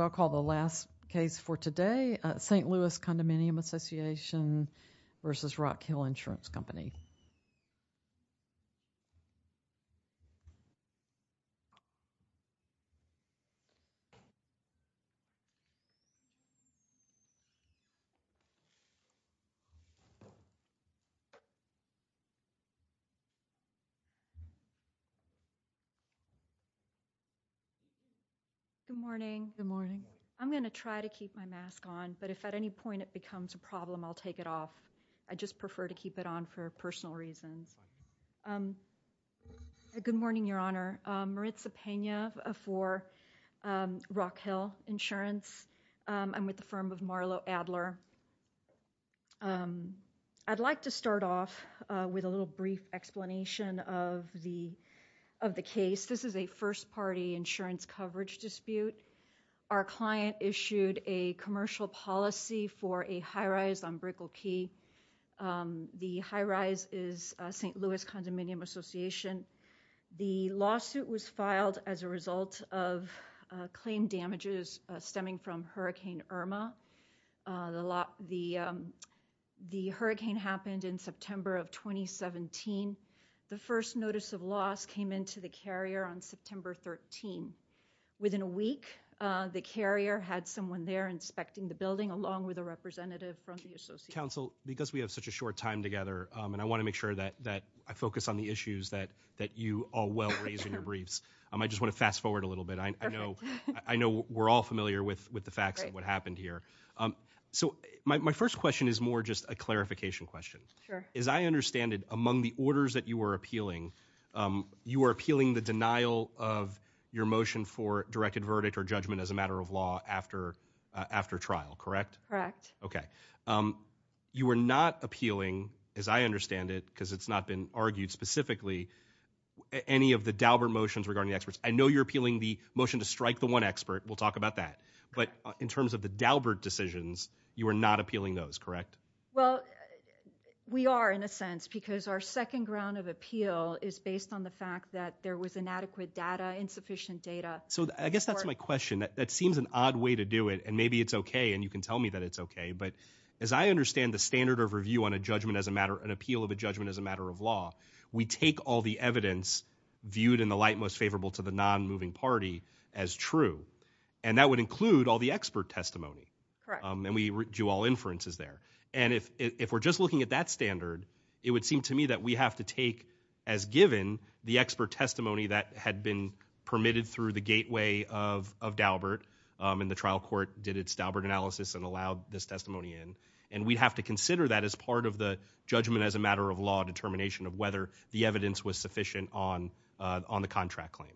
I'll call the last case for today, St. Louis Condominium Association v. Rockhill Insurance Company. Good morning. Good morning. I'm going to try to keep my mask on, but if at any point it becomes a problem, I'll take it off. I just prefer to keep it on for personal reasons. Good morning, Your Honor. Maritza Pena for Rockhill Insurance. I'm with the firm of Marlo Adler. I'd like to start off with a little brief explanation of the case. This is a first-party insurance coverage dispute. Our client issued a commercial policy for a high-rise on Brickell Key. The high-rise is St. Louis Condominium Association. The lawsuit was filed as a result of claim damages stemming from Hurricane Irma. The hurricane happened in September of 2017. The first notice of loss came into the carrier on September 13. Within a week, the carrier had someone there inspecting the building along with a representative from the association. Counsel, because we have such a short time together, and I want to make sure that I focus on the issues that you all well raise in your briefs, I just want to fast forward a little bit. I know we're all familiar with the facts of what happened here. My first question is more just a clarification question. As I understand it, among the orders that you were appealing, you were appealing the motion for directed verdict or judgment as a matter of law after trial, correct? Correct. Okay. You were not appealing, as I understand it, because it's not been argued specifically, any of the Daubert motions regarding the experts. I know you're appealing the motion to strike the one expert. We'll talk about that. But in terms of the Daubert decisions, you were not appealing those, correct? Well, we are in a sense, because our second ground of appeal is based on the fact that there was inadequate data, insufficient data. So I guess that's my question. That seems an odd way to do it, and maybe it's okay, and you can tell me that it's okay. But as I understand the standard of review on a judgment as a matter, an appeal of a judgment as a matter of law, we take all the evidence viewed in the light most favorable to the non-moving party as true. And that would include all the expert testimony. Correct. And we do all inferences there. And if we're just looking at that standard, it would seem to me that we have to take as had been permitted through the gateway of Daubert, and the trial court did its Daubert analysis and allowed this testimony in, and we have to consider that as part of the judgment as a matter of law determination of whether the evidence was sufficient on the contract claim.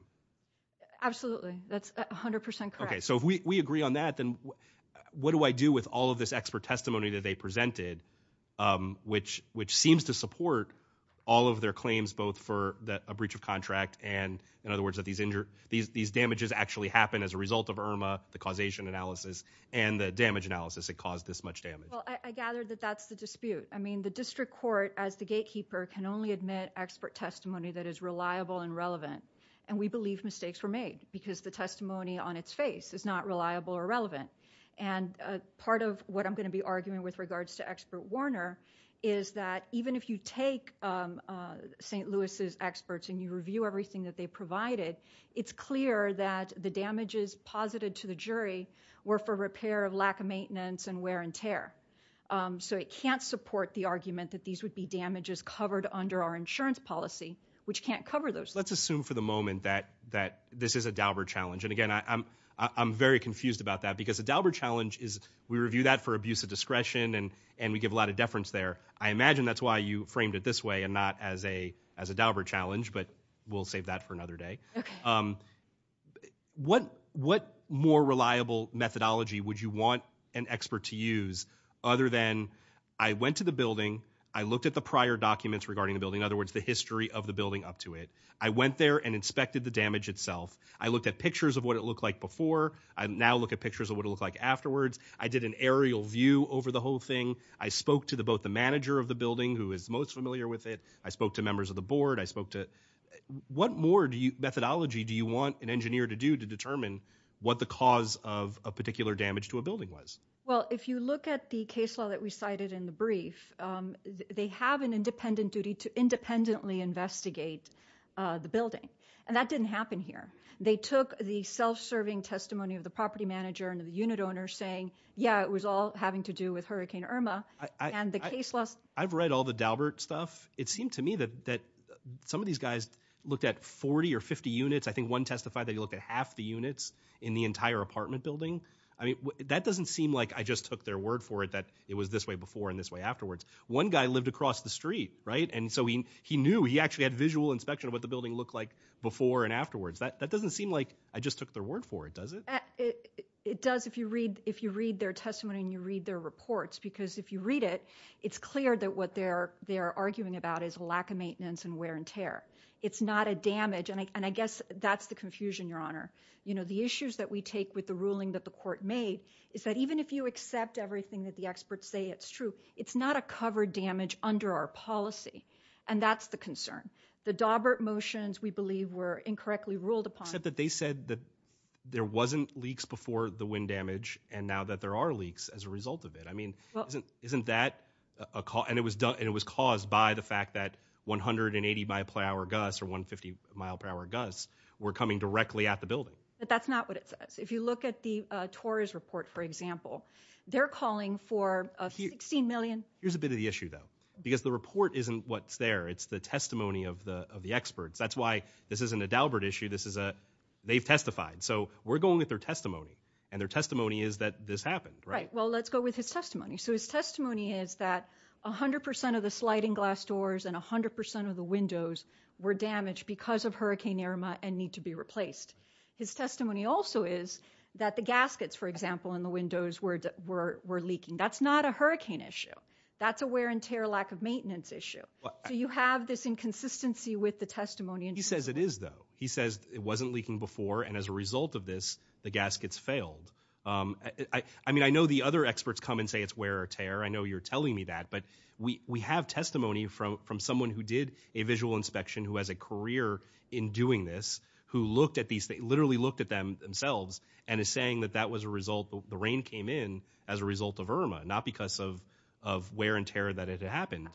Absolutely. That's 100% correct. Okay. So if we agree on that, then what do I do with all of this expert testimony that they these damages actually happen as a result of IRMA, the causation analysis, and the damage analysis that caused this much damage? Well, I gather that that's the dispute. I mean, the district court as the gatekeeper can only admit expert testimony that is reliable and relevant, and we believe mistakes were made because the testimony on its face is not reliable or relevant. And part of what I'm going to be arguing with regards to expert Warner is that even if you take St. Louis' experts and you review everything that they provided, it's clear that the damages posited to the jury were for repair of lack of maintenance and wear and tear. So it can't support the argument that these would be damages covered under our insurance policy, which can't cover those. Let's assume for the moment that this is a Daubert challenge, and again, I'm very confused about that because a Daubert challenge is we review that for abuse of discretion, and we give a lot of deference there. I imagine that's why you framed it this way and not as a Daubert challenge, but we'll save that for another day. What more reliable methodology would you want an expert to use other than I went to the building, I looked at the prior documents regarding the building, in other words, the history of the building up to it, I went there and inspected the damage itself, I looked at pictures of what it looked like before, I now look at pictures of what it looked like afterwards, I did an aerial view over the whole thing. I spoke to the both the manager of the building who is most familiar with it. I spoke to members of the board, I spoke to what more do you methodology do you want an engineer to do to determine what the cause of a particular damage to a building was? Well, if you look at the case law that we cited in the brief, they have an independent duty to independently investigate the building. And that didn't happen here. They took the self serving testimony of the property manager and the unit owner saying, yeah, it was all having to do with Hurricane Irma. I've read all the Daubert stuff. It seemed to me that some of these guys looked at 40 or 50 units. I think one testified that he looked at half the units in the entire apartment building. I mean, that doesn't seem like I just took their word for it, that it was this way before and this way afterwards. One guy lived across the street, right? And so he knew he actually had visual inspection of what the building looked like before and afterwards. That doesn't seem like I just took their word for it, does it? It does, if you read if you read their testimony and you read their reports, because if you read it, it's clear that what they're they're arguing about is a lack of maintenance and wear and tear. It's not a damage. And I guess that's the confusion, Your Honor. You know, the issues that we take with the ruling that the court made is that even if you accept everything that the experts say, it's true. It's not a covered damage under our policy. And that's the concern. The Daubert motions, we believe, were incorrectly ruled upon that. They said that there wasn't leaks before the wind damage. And now that there are leaks as a result of it, I mean, isn't isn't that a call? And it was done and it was caused by the fact that one hundred and eighty mile per hour gusts or one fifty mile per hour gusts were coming directly at the building. But that's not what it says. If you look at the Tories report, for example, they're calling for 16 million. Here's a bit of the issue, though, because the report isn't what's there. It's the testimony of the of the experts. That's why this isn't a Daubert issue. This is a they've testified. So we're going with their testimony and their testimony is that this happened. Right. Well, let's go with his testimony. So his testimony is that one hundred percent of the sliding glass doors and one hundred percent of the windows were damaged because of Hurricane Irma and need to be replaced. His testimony also is that the gaskets, for example, in the windows were were were leaking. That's not a hurricane issue. That's a wear and tear lack of maintenance issue. Do you have this inconsistency with the testimony? He says it is, though. He says it wasn't leaking before. And as a result of this, the gaskets failed. I mean, I know the other experts come and say it's wear or tear. I know you're telling me that. But we we have testimony from from someone who did a visual inspection, who has a career in doing this, who looked at these, they literally looked at them themselves and is saying that that was a result. The rain came in as a result of Irma, not because of of wear and tear that it happened.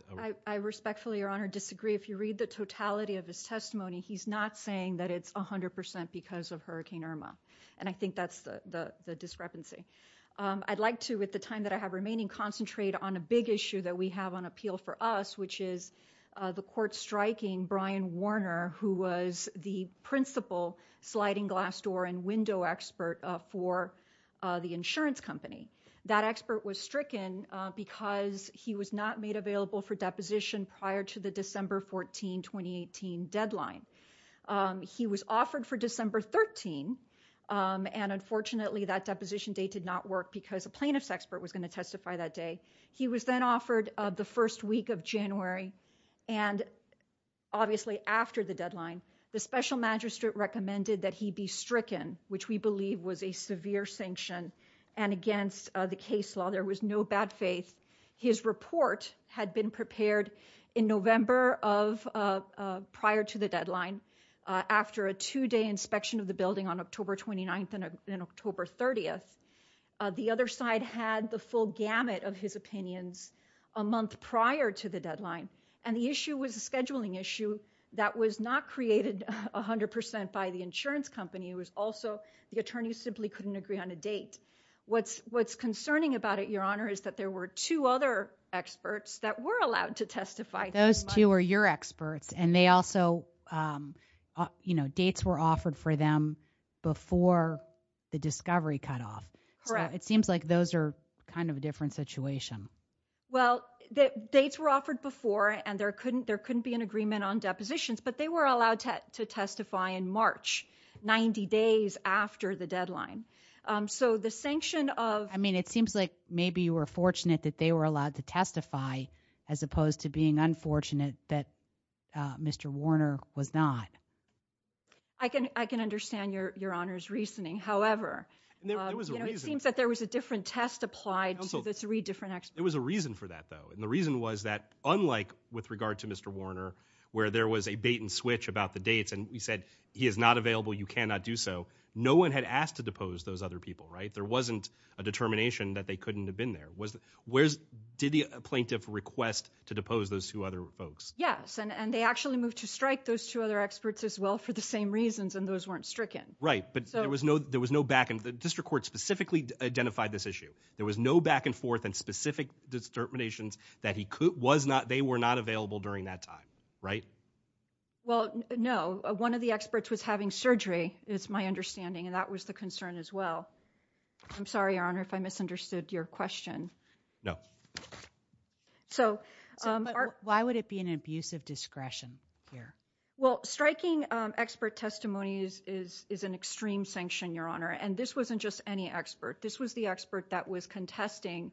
I respectfully, your honor, disagree. If you read the totality of his testimony, he's not saying that it's one hundred percent because of Hurricane Irma. And I think that's the discrepancy. I'd like to, at the time that I have remaining, concentrate on a big issue that we have on appeal for us, which is the court striking Brian Warner, who was the principal sliding glass door and window expert for the insurance company. That expert was stricken because he was not made available for deposition prior to the December 14, 2018 deadline. He was offered for December 13. And unfortunately, that deposition date did not work because a plaintiff's expert was going to testify that day. He was then offered the first week of January. And obviously, after the deadline, the special magistrate recommended that he be stricken, which we believe was a severe sanction. And against the case law, there was no bad faith. His report had been prepared in November of prior to the deadline after a two day inspection of the building on October 29th and October 30th. The other side had the full gamut of his opinions a month prior to the deadline. And the issue was a scheduling issue that was not created 100 percent by the insurance company. It was also the attorney simply couldn't agree on a date. What's what's concerning about it, Your Honor, is that there were two other experts that were allowed to testify. Those two are your experts. And they also, you know, dates were offered for them before the discovery cut off. It seems like those are kind of a different situation. Well, the dates were offered before and there couldn't there couldn't be an agreement on depositions, but they were allowed to testify in March, 90 days after the deadline. So the sanction of I mean, it seems like maybe you were fortunate that they were allowed to testify as opposed to being unfortunate that Mr. Warner was not. I can I can understand your your honor's reasoning, however, it seems that there was a different test applied to the three different experts. It was a reason for that, though. And the reason was that unlike with regard to Mr. Warner, where there was a bait and switch about the dates and he said he is not to depose those other people. Right. There wasn't a determination that they couldn't have been there. Was where's did the plaintiff request to depose those two other folks? Yes. And they actually moved to strike those two other experts as well for the same reasons. And those weren't stricken. Right. But there was no there was no back. And the district court specifically identified this issue. There was no back and forth and specific determinations that he was not they were not available during that time. Right. Well, no, one of the experts was having surgery, is my understanding. And that was the concern as well. I'm sorry, your honor, if I misunderstood your question. No. So why would it be an abuse of discretion here? Well, striking expert testimonies is is an extreme sanction, your honor. And this wasn't just any expert. This was the expert that was contesting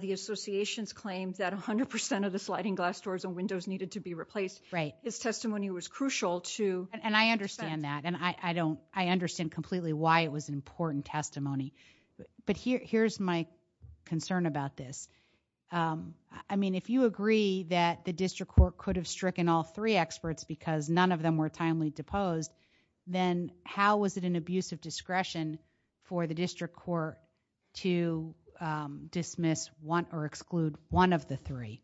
the association's claims that 100 percent of the sliding glass doors and windows needed to be replaced. Right. This testimony was crucial to. And I understand that and I don't I understand completely why it was an important testimony. But here's my concern about this. I mean, if you agree that the district court could have stricken all three experts because none of them were timely deposed, then how was it an abuse of discretion for the district court to dismiss one or exclude one of the three?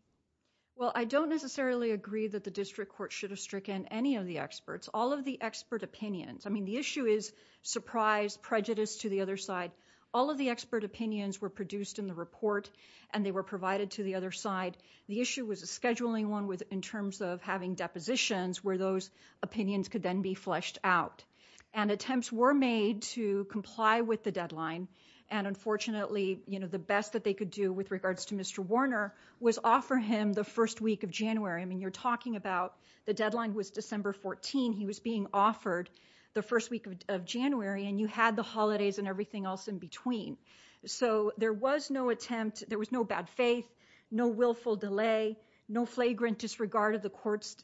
Well, I don't necessarily agree that the district court should have stricken any of the experts, all of the expert opinions. I mean, the issue is surprise prejudice to the other side. All of the expert opinions were produced in the report and they were provided to the other side. The issue was a scheduling one with in terms of having depositions where those opinions could then be fleshed out and attempts were made to comply with the deadline. And unfortunately, you know, the best that they could do with regards to Mr. Warner was offer him the first week of January. I mean, you're talking about the deadline was December 14. He was being offered the first week of January and you had the holidays and everything else in between. So there was no attempt. There was no bad faith, no willful delay, no flagrant disregard of the court's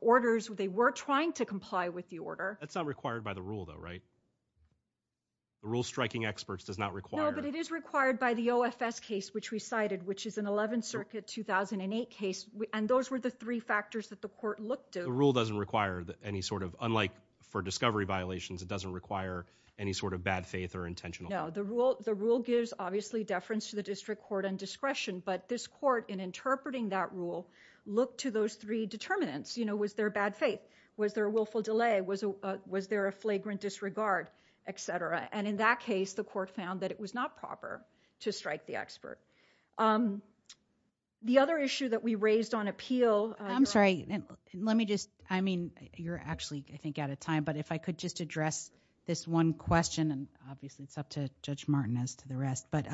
orders. They were trying to comply with the order. That's not required by the rule, though, right? The rule striking experts does not require. No, but it is required by the OFS case, which we cited, which is an 11th Circuit 2008 case. And those were the three factors that the court looked at. The rule doesn't require any sort of unlike for discovery violations, it doesn't require any sort of bad faith or intentional. No, the rule. The rule gives obviously deference to the district court and discretion. But this court, in interpreting that rule, looked to those three determinants. You know, was there bad faith? Was there a willful delay? Was was there a flagrant disregard, et cetera? And in that case, the court found that it was not proper to strike the expert. The other issue that we raised on appeal. I'm sorry. Let me just I mean, you're actually, I think, out of time. But if I could just address this one question and obviously it's up to Judge Martin as to the rest. But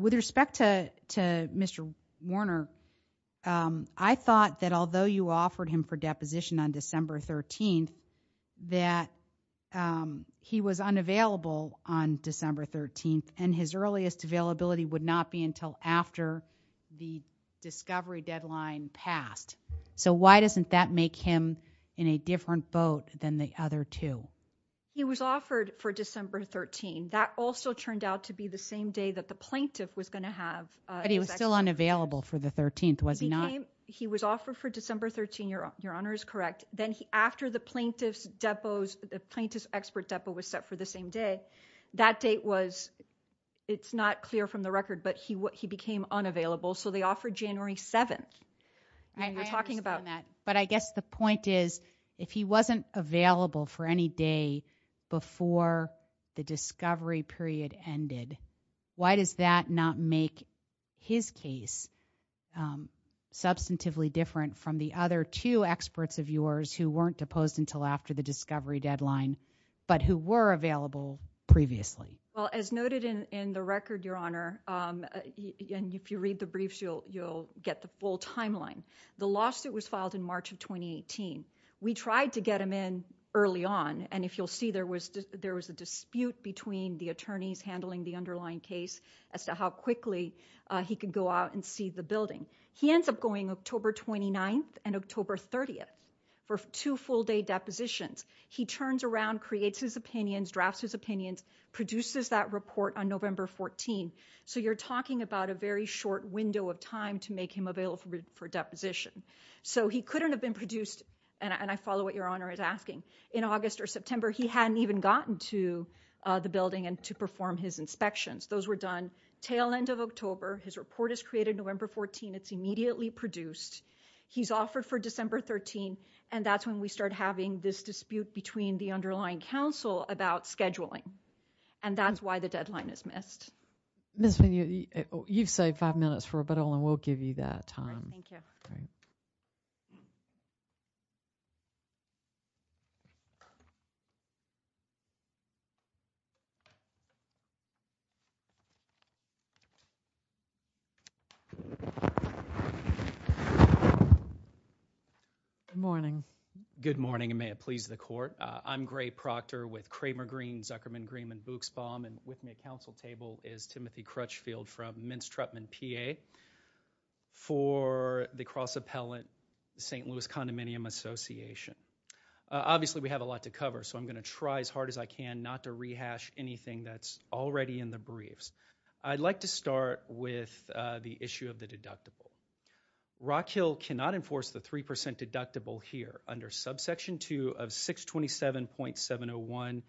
with respect to to Mr. Warner, I thought that although you offered him for deposition on December 13th and his earliest availability would not be until after the discovery deadline passed. So why doesn't that make him in a different boat than the other two? He was offered for December 13. That also turned out to be the same day that the plaintiff was going to have. But he was still unavailable for the 13th. Was he not? He was offered for December 13. Your your honor is correct. Then after the plaintiff's depots, the plaintiff's expert depot was set for the same day. That date was it's not clear from the record, but he he became unavailable. So they offered January 7th and we're talking about that. But I guess the point is, if he wasn't available for any day before the discovery period ended, why does that not make his case substantively different from the other two experts of yours who weren't deposed until after the discovery deadline, but who were available previously? Well, as noted in the record, your honor, and if you read the briefs, you'll you'll get the full timeline. The lawsuit was filed in March of twenty eighteen. We tried to get him in early on. And if you'll see, there was there was a dispute between the attorneys handling the underlying case as to how quickly he could go out and see the building. He ends up going October twenty ninth and October 30th for two full day depositions. He turns around, creates his opinions, drafts his opinions, produces that report on November 14. So you're talking about a very short window of time to make him available for deposition. So he couldn't have been produced. And I follow what your honor is asking. In August or September, he hadn't even gotten to the building and to perform his inspections. Those were done tail end of October. His report is created November 14. It's immediately produced. He's offered for December 13. And that's when we start having this dispute between the underlying counsel about scheduling. And that's why the deadline is missed. Miss, when you you've saved five minutes for, but only will give you that time. Thank you. Good morning. Good morning. And may it please the court. I'm Gray Proctor with Kramer Green, Zuckerman, Green and Buchsbaum. And with me at counsel table is Timothy Crutchfield from Mintz-Truppman, PA. For the cross appellant, the St. Louis Condominium Association, obviously we have a lot to cover, so I'm going to try as hard as I can not to rehash anything that's already in the briefs. I'd like to start with the issue of the deductible. Rock Hill cannot enforce the 3% deductible here under subsection 2 of 627.701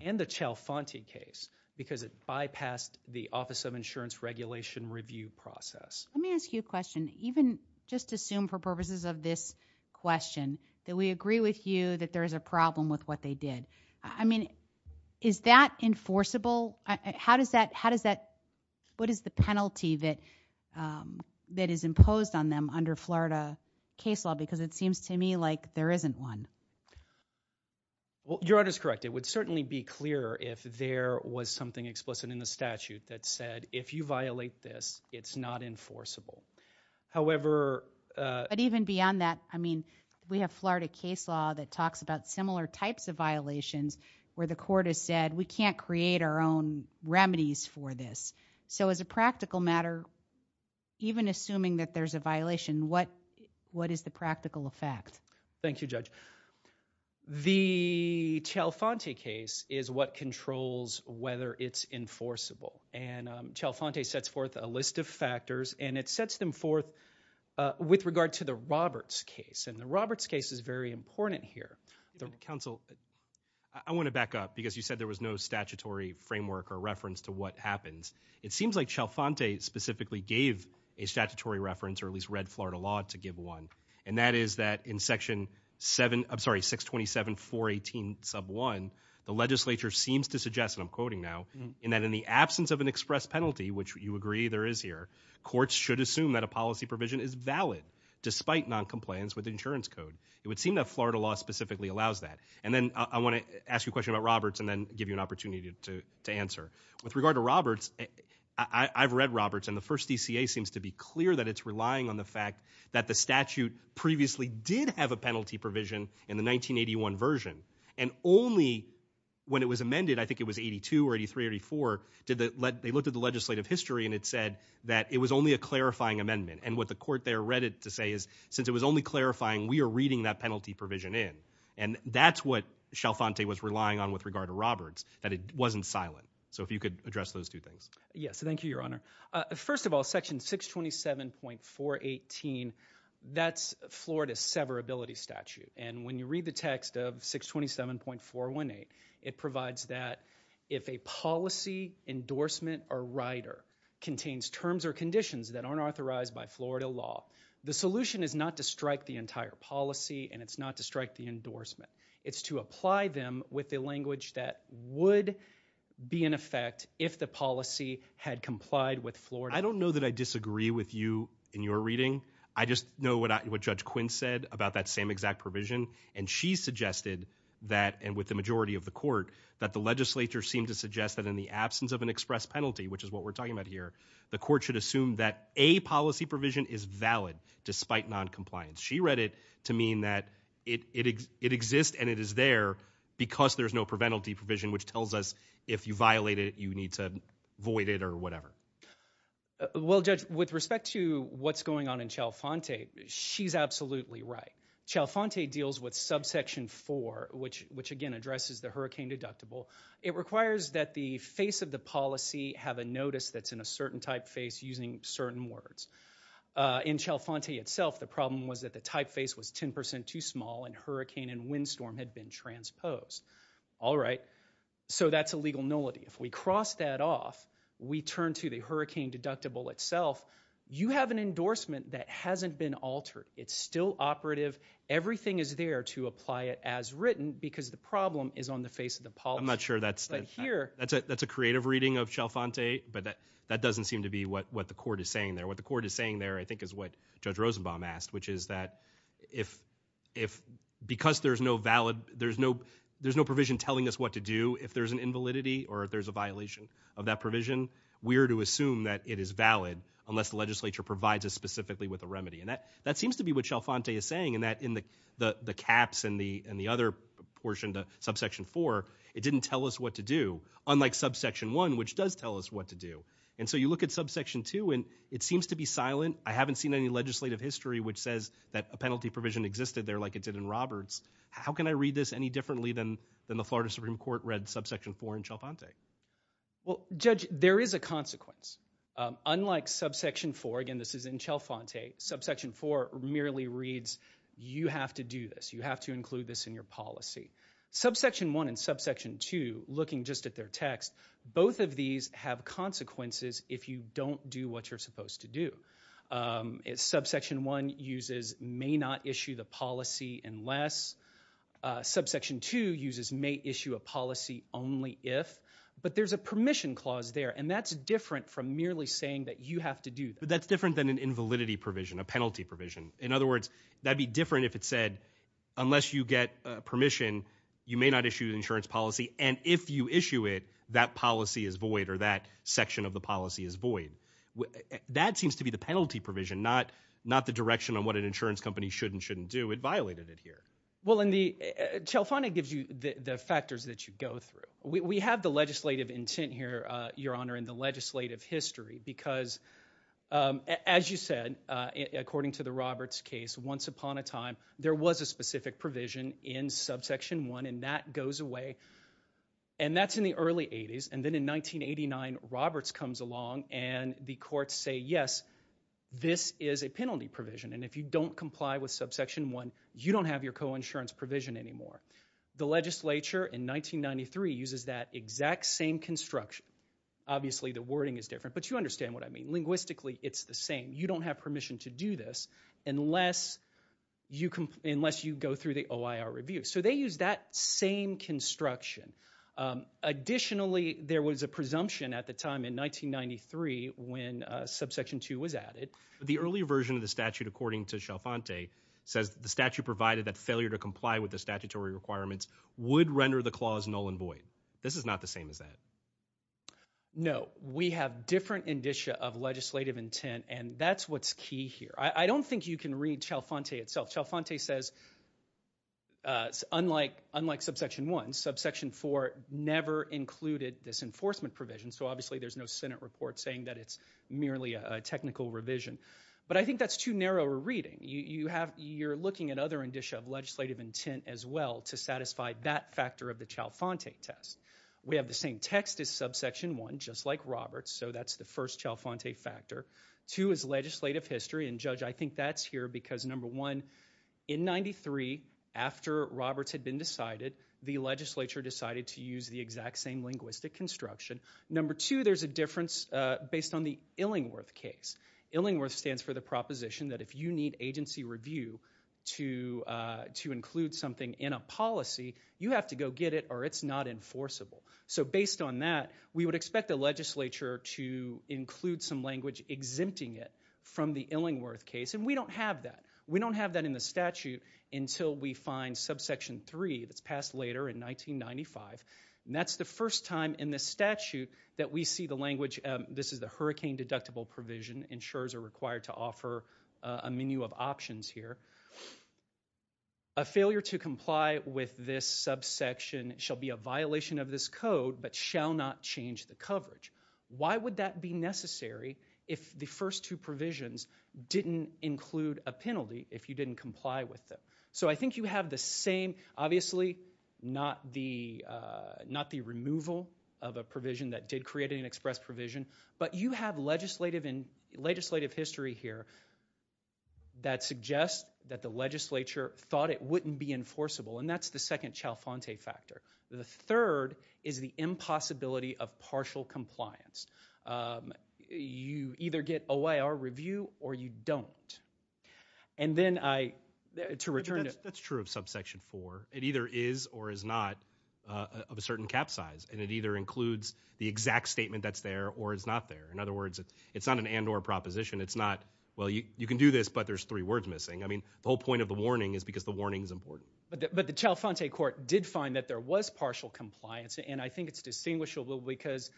and the Chalfanti case because it bypassed the office of insurance regulation review process. Let me ask you a question. Even just assume for purposes of this question that we agree with you that there is a problem with what they did. I mean, is that enforceable? How does that, what is the penalty that is imposed on them under Florida case law? Because it seems to me like there isn't one. Well, your honor is correct. It would certainly be clearer if there was something explicit in the statute that said, if you violate this, it's not enforceable. However. But even beyond that, I mean, we have Florida case law that talks about similar types of violations where the court has said we can't create our own remedies for this. So as a practical matter, even assuming that there's a violation, what what is the practical effect? Thank you, Judge. The Chalfanti case is what controls whether it's enforceable. And Chalfanti sets forth a list of factors and it sets them forth with regard to the Roberts case. And the Roberts case is very important here. The counsel. I want to back up because you said there was no statutory framework or reference to what happens. It seems like Chalfanti specifically gave a statutory reference or at least read Florida law to give one. And that is that in section seven, I'm sorry, 627, 418, sub one, the legislature seems to suggest, and I'm quoting now, in that in the absence of an express penalty, which you agree there is here, courts should assume that a policy provision is valid despite noncompliance with the insurance code. It would seem that Florida law specifically allows that. And then I want to ask you a question about Roberts and then give you an opportunity to answer. With regard to Roberts, I've read Roberts and the first DCA seems to be clear that it's relying on the fact that the statute previously did have a penalty provision in the 1981 version. And only when it was amended, I think it was 82 or 83, 84, they looked at the legislative history and it said that it was only a clarifying amendment. And what the court there read it to say is since it was only clarifying, we are reading that penalty provision in. And that's what Chalfanti was relying on with regard to Roberts, that it wasn't silent. So if you could address those two things. Yes, thank you, Your Honor. First of all, section 627.418, that's Florida severability statute. And when you read the text of 627.418, it provides that if a policy endorsement or rider contains terms or conditions that aren't authorized by Florida law, the solution is not to strike the entire policy and it's not to strike the endorsement. It's to apply them with the language that would be in effect if the policy had complied with Florida. I don't know that I disagree with you in your reading. I just know what Judge Quinn said about that same exact provision. And she suggested that, and with the majority of the court, that the legislature seemed to suggest that in the absence of an express penalty, which is what we're talking about here, the court should assume that a policy provision is valid despite noncompliance. She read it to mean that it exists and it is there because there's no preventative provision, which tells us if you violate it, you need to void it or whatever. Well, Judge, with respect to what's going on in Chalfanti, she's absolutely right. Chalfanti deals with subsection 4, which again addresses the hurricane deductible. It requires that the face of the policy have a notice that's in a certain typeface using certain words. In Chalfanti itself, the problem was that the typeface was 10 percent too small and hurricane and windstorm had been transposed. All right. So that's a legal nullity. If we cross that off, we turn to the hurricane deductible itself. You have an endorsement that hasn't been altered. It's still operative. Everything is there to apply it as written because the problem is on the face of the policy. I'm not sure that's here. That's a that's a creative reading of Chalfanti. But that that doesn't seem to be what what the court is saying there. What the court is saying there, I think, is what Judge Rosenbaum asked, which is that if if because there's no valid there's no there's no provision telling us what to do if there's an invalidity or if there's a violation of that provision, we are to assume that it is valid unless the legislature provides us specifically with a remedy. And that that seems to be what Chalfanti is saying, and that in the the caps and the and the other portion to subsection 4, it didn't tell us what to do, unlike subsection 1, which does tell us what to do. And so you look at subsection 2 and it seems to be silent. I haven't seen any legislative history which says that a penalty provision existed there like it did in Roberts. How can I read this any differently than than the Florida Supreme Court read subsection 4 in Chalfanti? Well, Judge, there is a consequence. Unlike subsection 4, again, this is in Chalfanti, subsection 4 merely reads you have to do this. You have to include this in your policy. Subsection 1 and subsection 2, looking just at their text, both of these have consequences if you don't do what you're supposed to do. It's subsection 1 uses may not issue the policy unless subsection 2 uses may issue a policy only if. But there's a permission clause there. And that's different from merely saying that you have to do that. That's different than an invalidity provision, a penalty provision. In other words, that'd be different if it said unless you get permission, you may not issue an insurance policy. And if you issue it, that policy is void or that section of the policy is void. That seems to be the penalty provision, not not the direction on what an insurance company should and shouldn't do. It violated it here. Well, in the Chalfanti gives you the factors that you go through. We have the legislative intent here, Your Honor, in the legislative history, because, as you said, according to the Roberts case, once upon a time, there was a specific provision in subsection 1 and that goes away. And that's in the early 80s. And then in 1989, Roberts comes along and the courts say, yes, this is a penalty provision. And if you don't comply with subsection 1, you don't have your coinsurance provision anymore. The legislature in 1993 uses that exact same construction. Obviously, the wording is different, but you understand what I mean. Linguistically, it's the same. You don't have permission to do this unless you unless you go through the OIR review. So they use that same construction. Additionally, there was a presumption at the time in 1993 when subsection 2 was added. The earlier version of the statute, according to Chalfanti, says the statute provided that failure to comply with the statutory requirements would render the clause null and void. This is not the same as that. No, we have different indicia of legislative intent, and that's what's key here. I don't think you can read Chalfanti itself. Chalfanti says, unlike subsection 1, subsection 4 never included this enforcement provision. So obviously, there's no Senate report saying that it's merely a technical revision. But I think that's too narrow a reading. You have you're looking at other indicia of legislative intent as well to satisfy that factor of the Chalfanti test. We have the same text as subsection 1, just like Roberts. So that's the first Chalfanti factor. Two is legislative history. And, Judge, I think that's here because, number one, in 93, after Roberts had been decided, the legislature decided to use the exact same linguistic construction. Number two, there's a difference based on the Illingworth case. Illingworth stands for the proposition that if you need agency review to include something in a policy, you have to go get it or it's not enforceable. So based on that, we would expect the legislature to include some language exempting it from the Illingworth case. And we don't have that. We don't have that in the statute until we find subsection 3 that's passed later in 1995. And that's the first time in the statute that we see the language. This is the hurricane deductible provision. Insurers are required to offer a menu of options here. A failure to comply with this subsection shall be a violation of this code but shall not change the coverage. Why would that be necessary if the first two provisions didn't include a penalty if you didn't comply with them? So I think you have the same, obviously, not the removal of a provision that did create an express provision, but you have legislative history here that suggests that the legislature thought it wouldn't be enforceable. And that's the second Chalfante factor. The third is the impossibility of partial compliance. You either get OIR review or you don't. And then I, to return to... That's true of subsection 4. It either is or is not of a certain cap size. And it either includes the exact statement that's there or is not there. In other words, it's not an and or proposition. It's not, well, you can do this, but there's three words missing. I mean, the whole point of the warning is because the warning is important. But the Chalfante court did find that there was partial compliance. And I think it's distinguishable because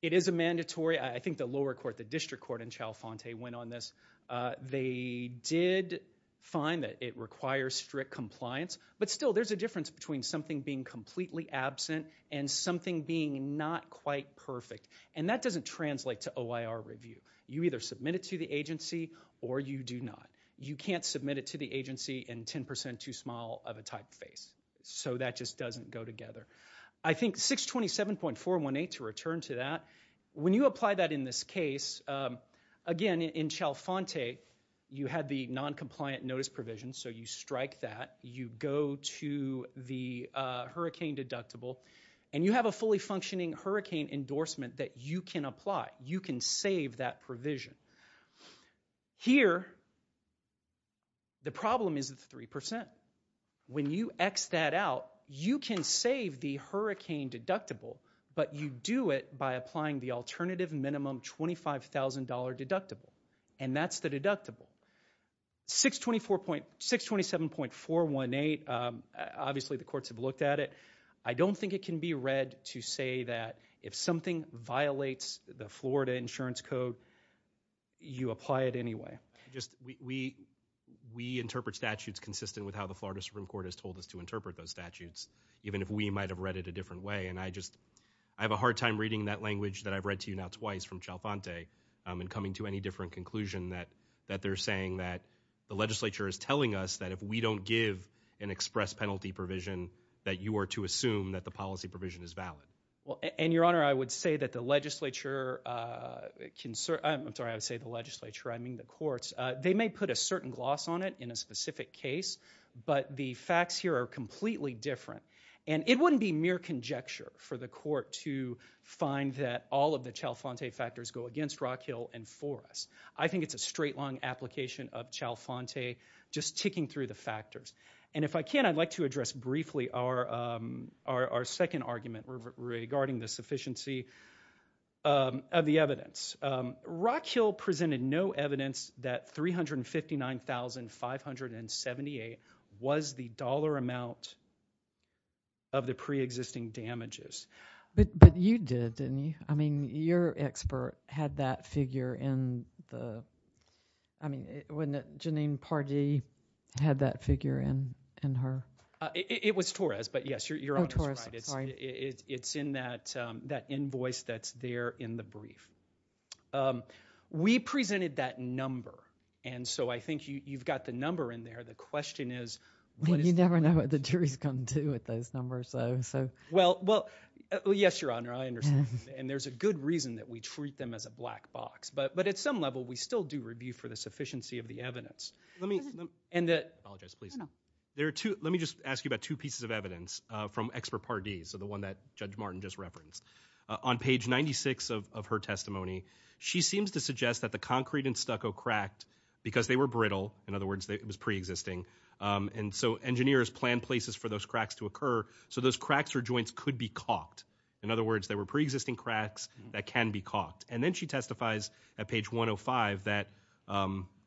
it is a mandatory, I think the lower court, the district court in Chalfante went on this. They did find that it requires strict compliance, but still, there's a difference between something being completely absent and something being not quite perfect. And that doesn't translate to OIR review. You either submit it to the agency or you do not. You can't submit it to the agency in 10% too small of a typeface. So that just doesn't go together. I think 627.418, to return to that, when you apply that in this case, again, in Chalfante, you had the non-compliant notice provision. So you strike that, you go to the hurricane deductible, and you have a fully functioning hurricane endorsement that you can apply. You can save that provision. Here. The problem is the 3%. When you X that out, you can save the hurricane deductible, but you do it by applying the alternative minimum $25,000 deductible. And that's the deductible. 627.418, obviously the courts have looked at it. I don't think it can be read to say that if something violates the Florida insurance code, you apply it anyway. We interpret statutes consistent with how the Florida Supreme Court has told us to interpret those statutes, even if we might have read it a different way. And I just, I have a hard time reading that language that I've read to you now twice from Chalfante and coming to any different conclusion that they're saying that the legislature is telling us that if we don't give an express penalty provision, that you are to assume that the policy provision is valid. Well, and Your Honor, I would say that the legislature, I'm sorry, I would say the legislature, I mean the courts, they may put a certain gloss on it in a specific case, but the facts here are completely different. And it wouldn't be mere conjecture for the court to find that all of the Chalfante factors go against Rock Hill and for us. I think it's a straight-long application of Chalfante just ticking through the factors. And if I can, I'd like to address briefly our second argument regarding the sufficiency of the evidence. Rock Hill presented no evidence that $359,578 was the dollar amount of the pre-existing damages. But you did, didn't you? I mean, your expert had that figure in the, I mean, wasn't it Janine Pardee had that figure in her? It was Torres, but yes, Your Honor, it's in that invoice that's there in the brief. We presented that number, and so I think you've got the number in there. The question is, you never know what the jury's going to do with those numbers. So, well, well, yes, Your Honor, I understand. And there's a good reason that we treat them as a black box. But at some level, we still do review for the sufficiency of the evidence. Let me, and I apologize, please. There are two, let me just ask you about two pieces of evidence from expert Pardee, so the one that Judge Martin just referenced. On page 96 of her testimony, she seems to suggest that the concrete and stucco cracked because they were brittle. In other words, it was pre-existing. And so engineers planned places for those cracks to occur. So those cracks or joints could be caulked. In other words, they were pre-existing cracks that can be caulked. And then she testifies at page 105 that,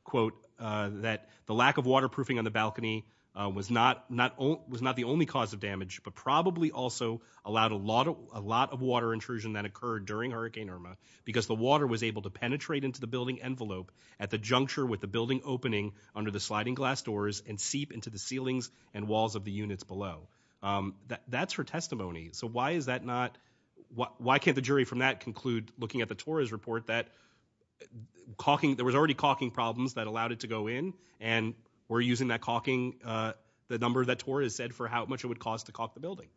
quote, that the lack of waterproofing on the balcony was not the only cause of damage, but probably also allowed a lot of water intrusion that occurred during Hurricane Irma because the water was able to penetrate into the building envelope at the juncture with the building opening under the sliding glass doors and seep into the ceilings and walls of the units below. That's her testimony. So why is that not, why can't the jury from that conclude, looking at the TORRA's report, that caulking, there was already caulking problems that allowed it to go in. And we're using that caulking, the number that TORRA has said, for how much it would cost to caulk the building.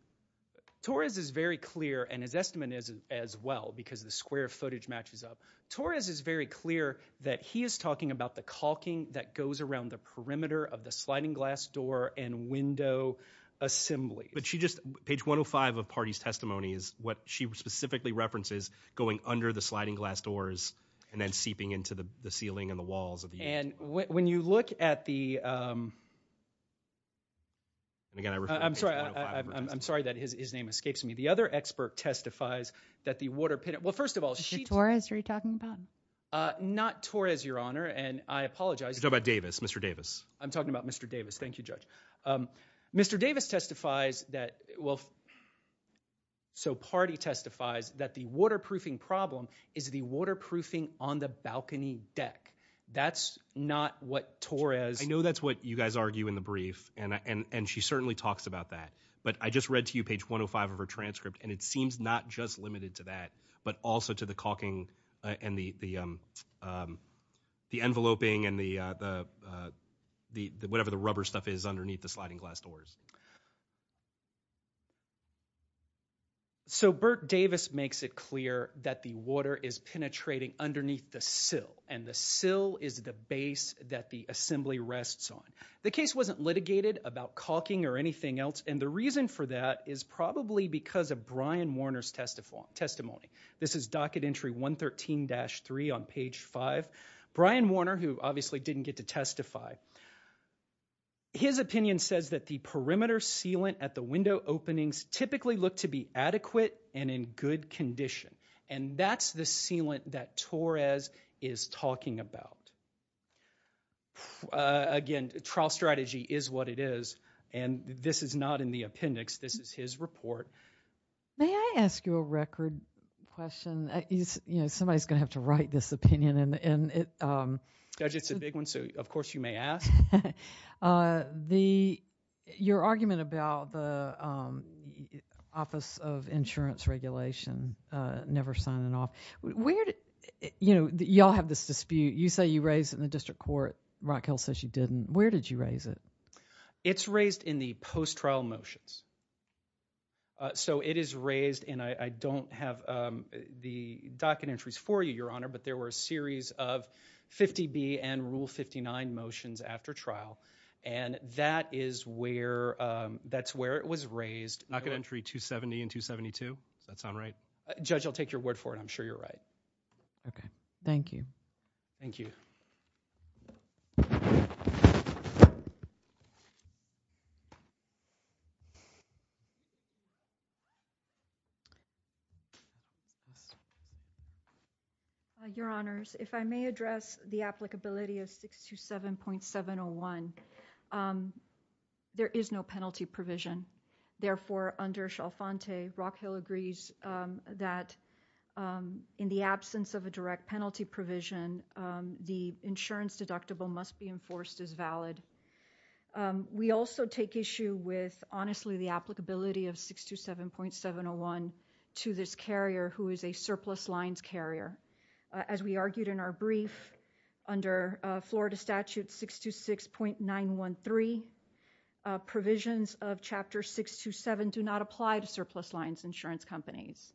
TORRA's is very clear, and his estimate is as well, because the square footage matches up. TORRA's is very clear that he is talking about the caulking that goes around the perimeter of the sliding glass door and window assembly. But she just, page 105 of Party's testimony is what she specifically references, going under the sliding glass doors and then seeping into the ceiling and the walls of the unit. And when you look at the, I'm sorry, I'm sorry that his name escapes me, the other expert testifies that the water, well first of all, Is it TORRA's you're talking about? Not TORRA's, Your Honor, and I apologize. You're talking about Davis, Mr. Davis. I'm talking about Mr. Davis, thank you, Judge. Mr. Davis testifies that, well, so Party testifies that the waterproofing problem is the waterproofing on the balcony deck. That's not what TORRA's... I know that's what you guys argue in the brief, and she certainly talks about that. But I just read to you page 105 of her transcript, and it seems not just limited to that, but also to the caulking and the enveloping and the whatever the rubber stuff is underneath the sliding glass doors. So, Burt Davis makes it clear that the water is penetrating underneath the sill, and the sill is the base that the assembly rests on. The case wasn't litigated about caulking or anything else, and the reason for that is probably because of Brian Warner's testimony. This is docket entry 113-3 on page 5. Brian Warner, who obviously didn't get to testify, his opinion says that the perimeter sealant at the window openings typically look to be adequate and in good condition. And that's the sealant that Torres is talking about. Again, trial strategy is what it is, and this is not in the appendix, this is his report. May I ask you a record question? You know, somebody's going to have to write this opinion. Judge, it's a big one, so of course you may ask. Your argument about the Office of Insurance Regulation never signing off, you know, you all have this dispute. You say you raised it in the district court. Rock Hill says you didn't. Where did you raise it? It's raised in the post-trial motions. So, it is raised, and I don't have the docket entries for you, Your Honor, but there were a series of 50B and Rule 59 motions after trial, and that is where it was raised. Docket entry 270 and 272? Does that sound right? Judge, I'll take your word for it. I'm sure you're right. Okay. Thank you. Thank you. Your Honors, if I may address the applicability of 627.701, there is no penalty provision. Therefore, under Shelfante, Rock Hill agrees that in the absence of a direct penalty provision, the insurance deductible must be enforced as valid. We also take issue with, honestly, the applicability of 627.701 to this carrier who is a surplus lines carrier. As we argued in our brief, under Florida Statute 626.913, provisions of Chapter 627 do not apply to surplus lines insurance companies.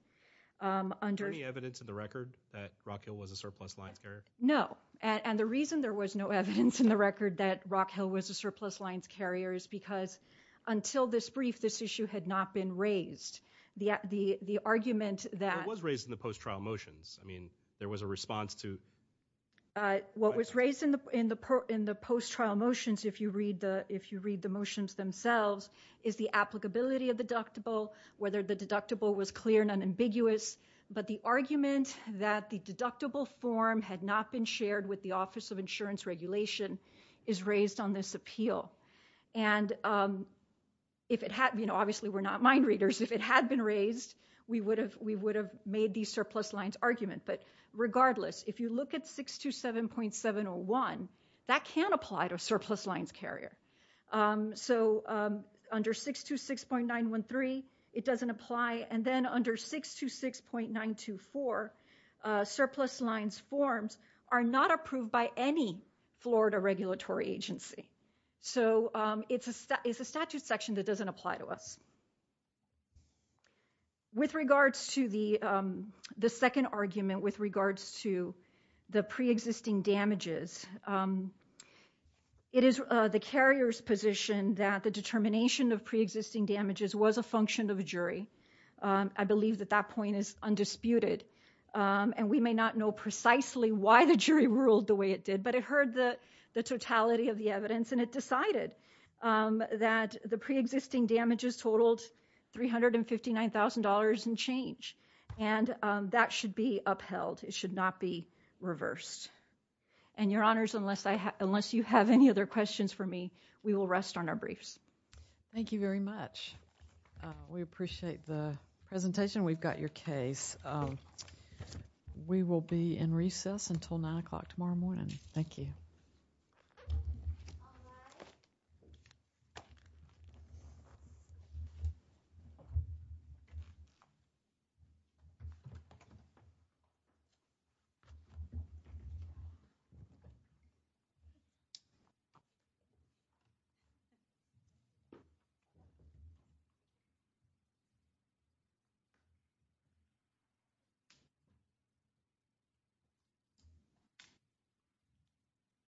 Is there any evidence in the record that Rock Hill was a surplus lines carrier? No. And the reason there was no evidence in the record that Rock Hill was a surplus lines carrier is because until this brief, this issue had not been raised. The argument that... It was raised in the post-trial motions. I mean, there was a response to... What was raised in the post-trial motions, if you read the motions themselves, is the applicability of deductible, whether the deductible was clear or ambiguous, but the argument that the deductible form had not been shared with the Office of Insurance Regulation is raised on this appeal. And if it had... Obviously, we're not mind readers. If it had been raised, we would have made the surplus lines argument. But regardless, if you look at 627.701, that can apply to a surplus lines carrier. So under 626.913, it doesn't apply. And then under 626.924, surplus lines forms are not approved by any Florida regulatory agency. So it's a statute section that doesn't apply to us. With regards to the second argument, with regards to the pre-existing damages, it is the carrier's position that the determination of pre-existing damages was a function of a jury. I believe that that point is undisputed. And we may not know precisely why the jury ruled the way it did, but it heard the totality of the evidence and it decided that the pre-existing damages totaled $359,000 and change. And that should be upheld. It should not be reversed. And, Your Honors, unless you have any other questions for me, we will rest on our briefs. Thank you very much. We appreciate the presentation. We've got your case. We will be in recess until 9 o'clock tomorrow morning. Thank you. Thank you.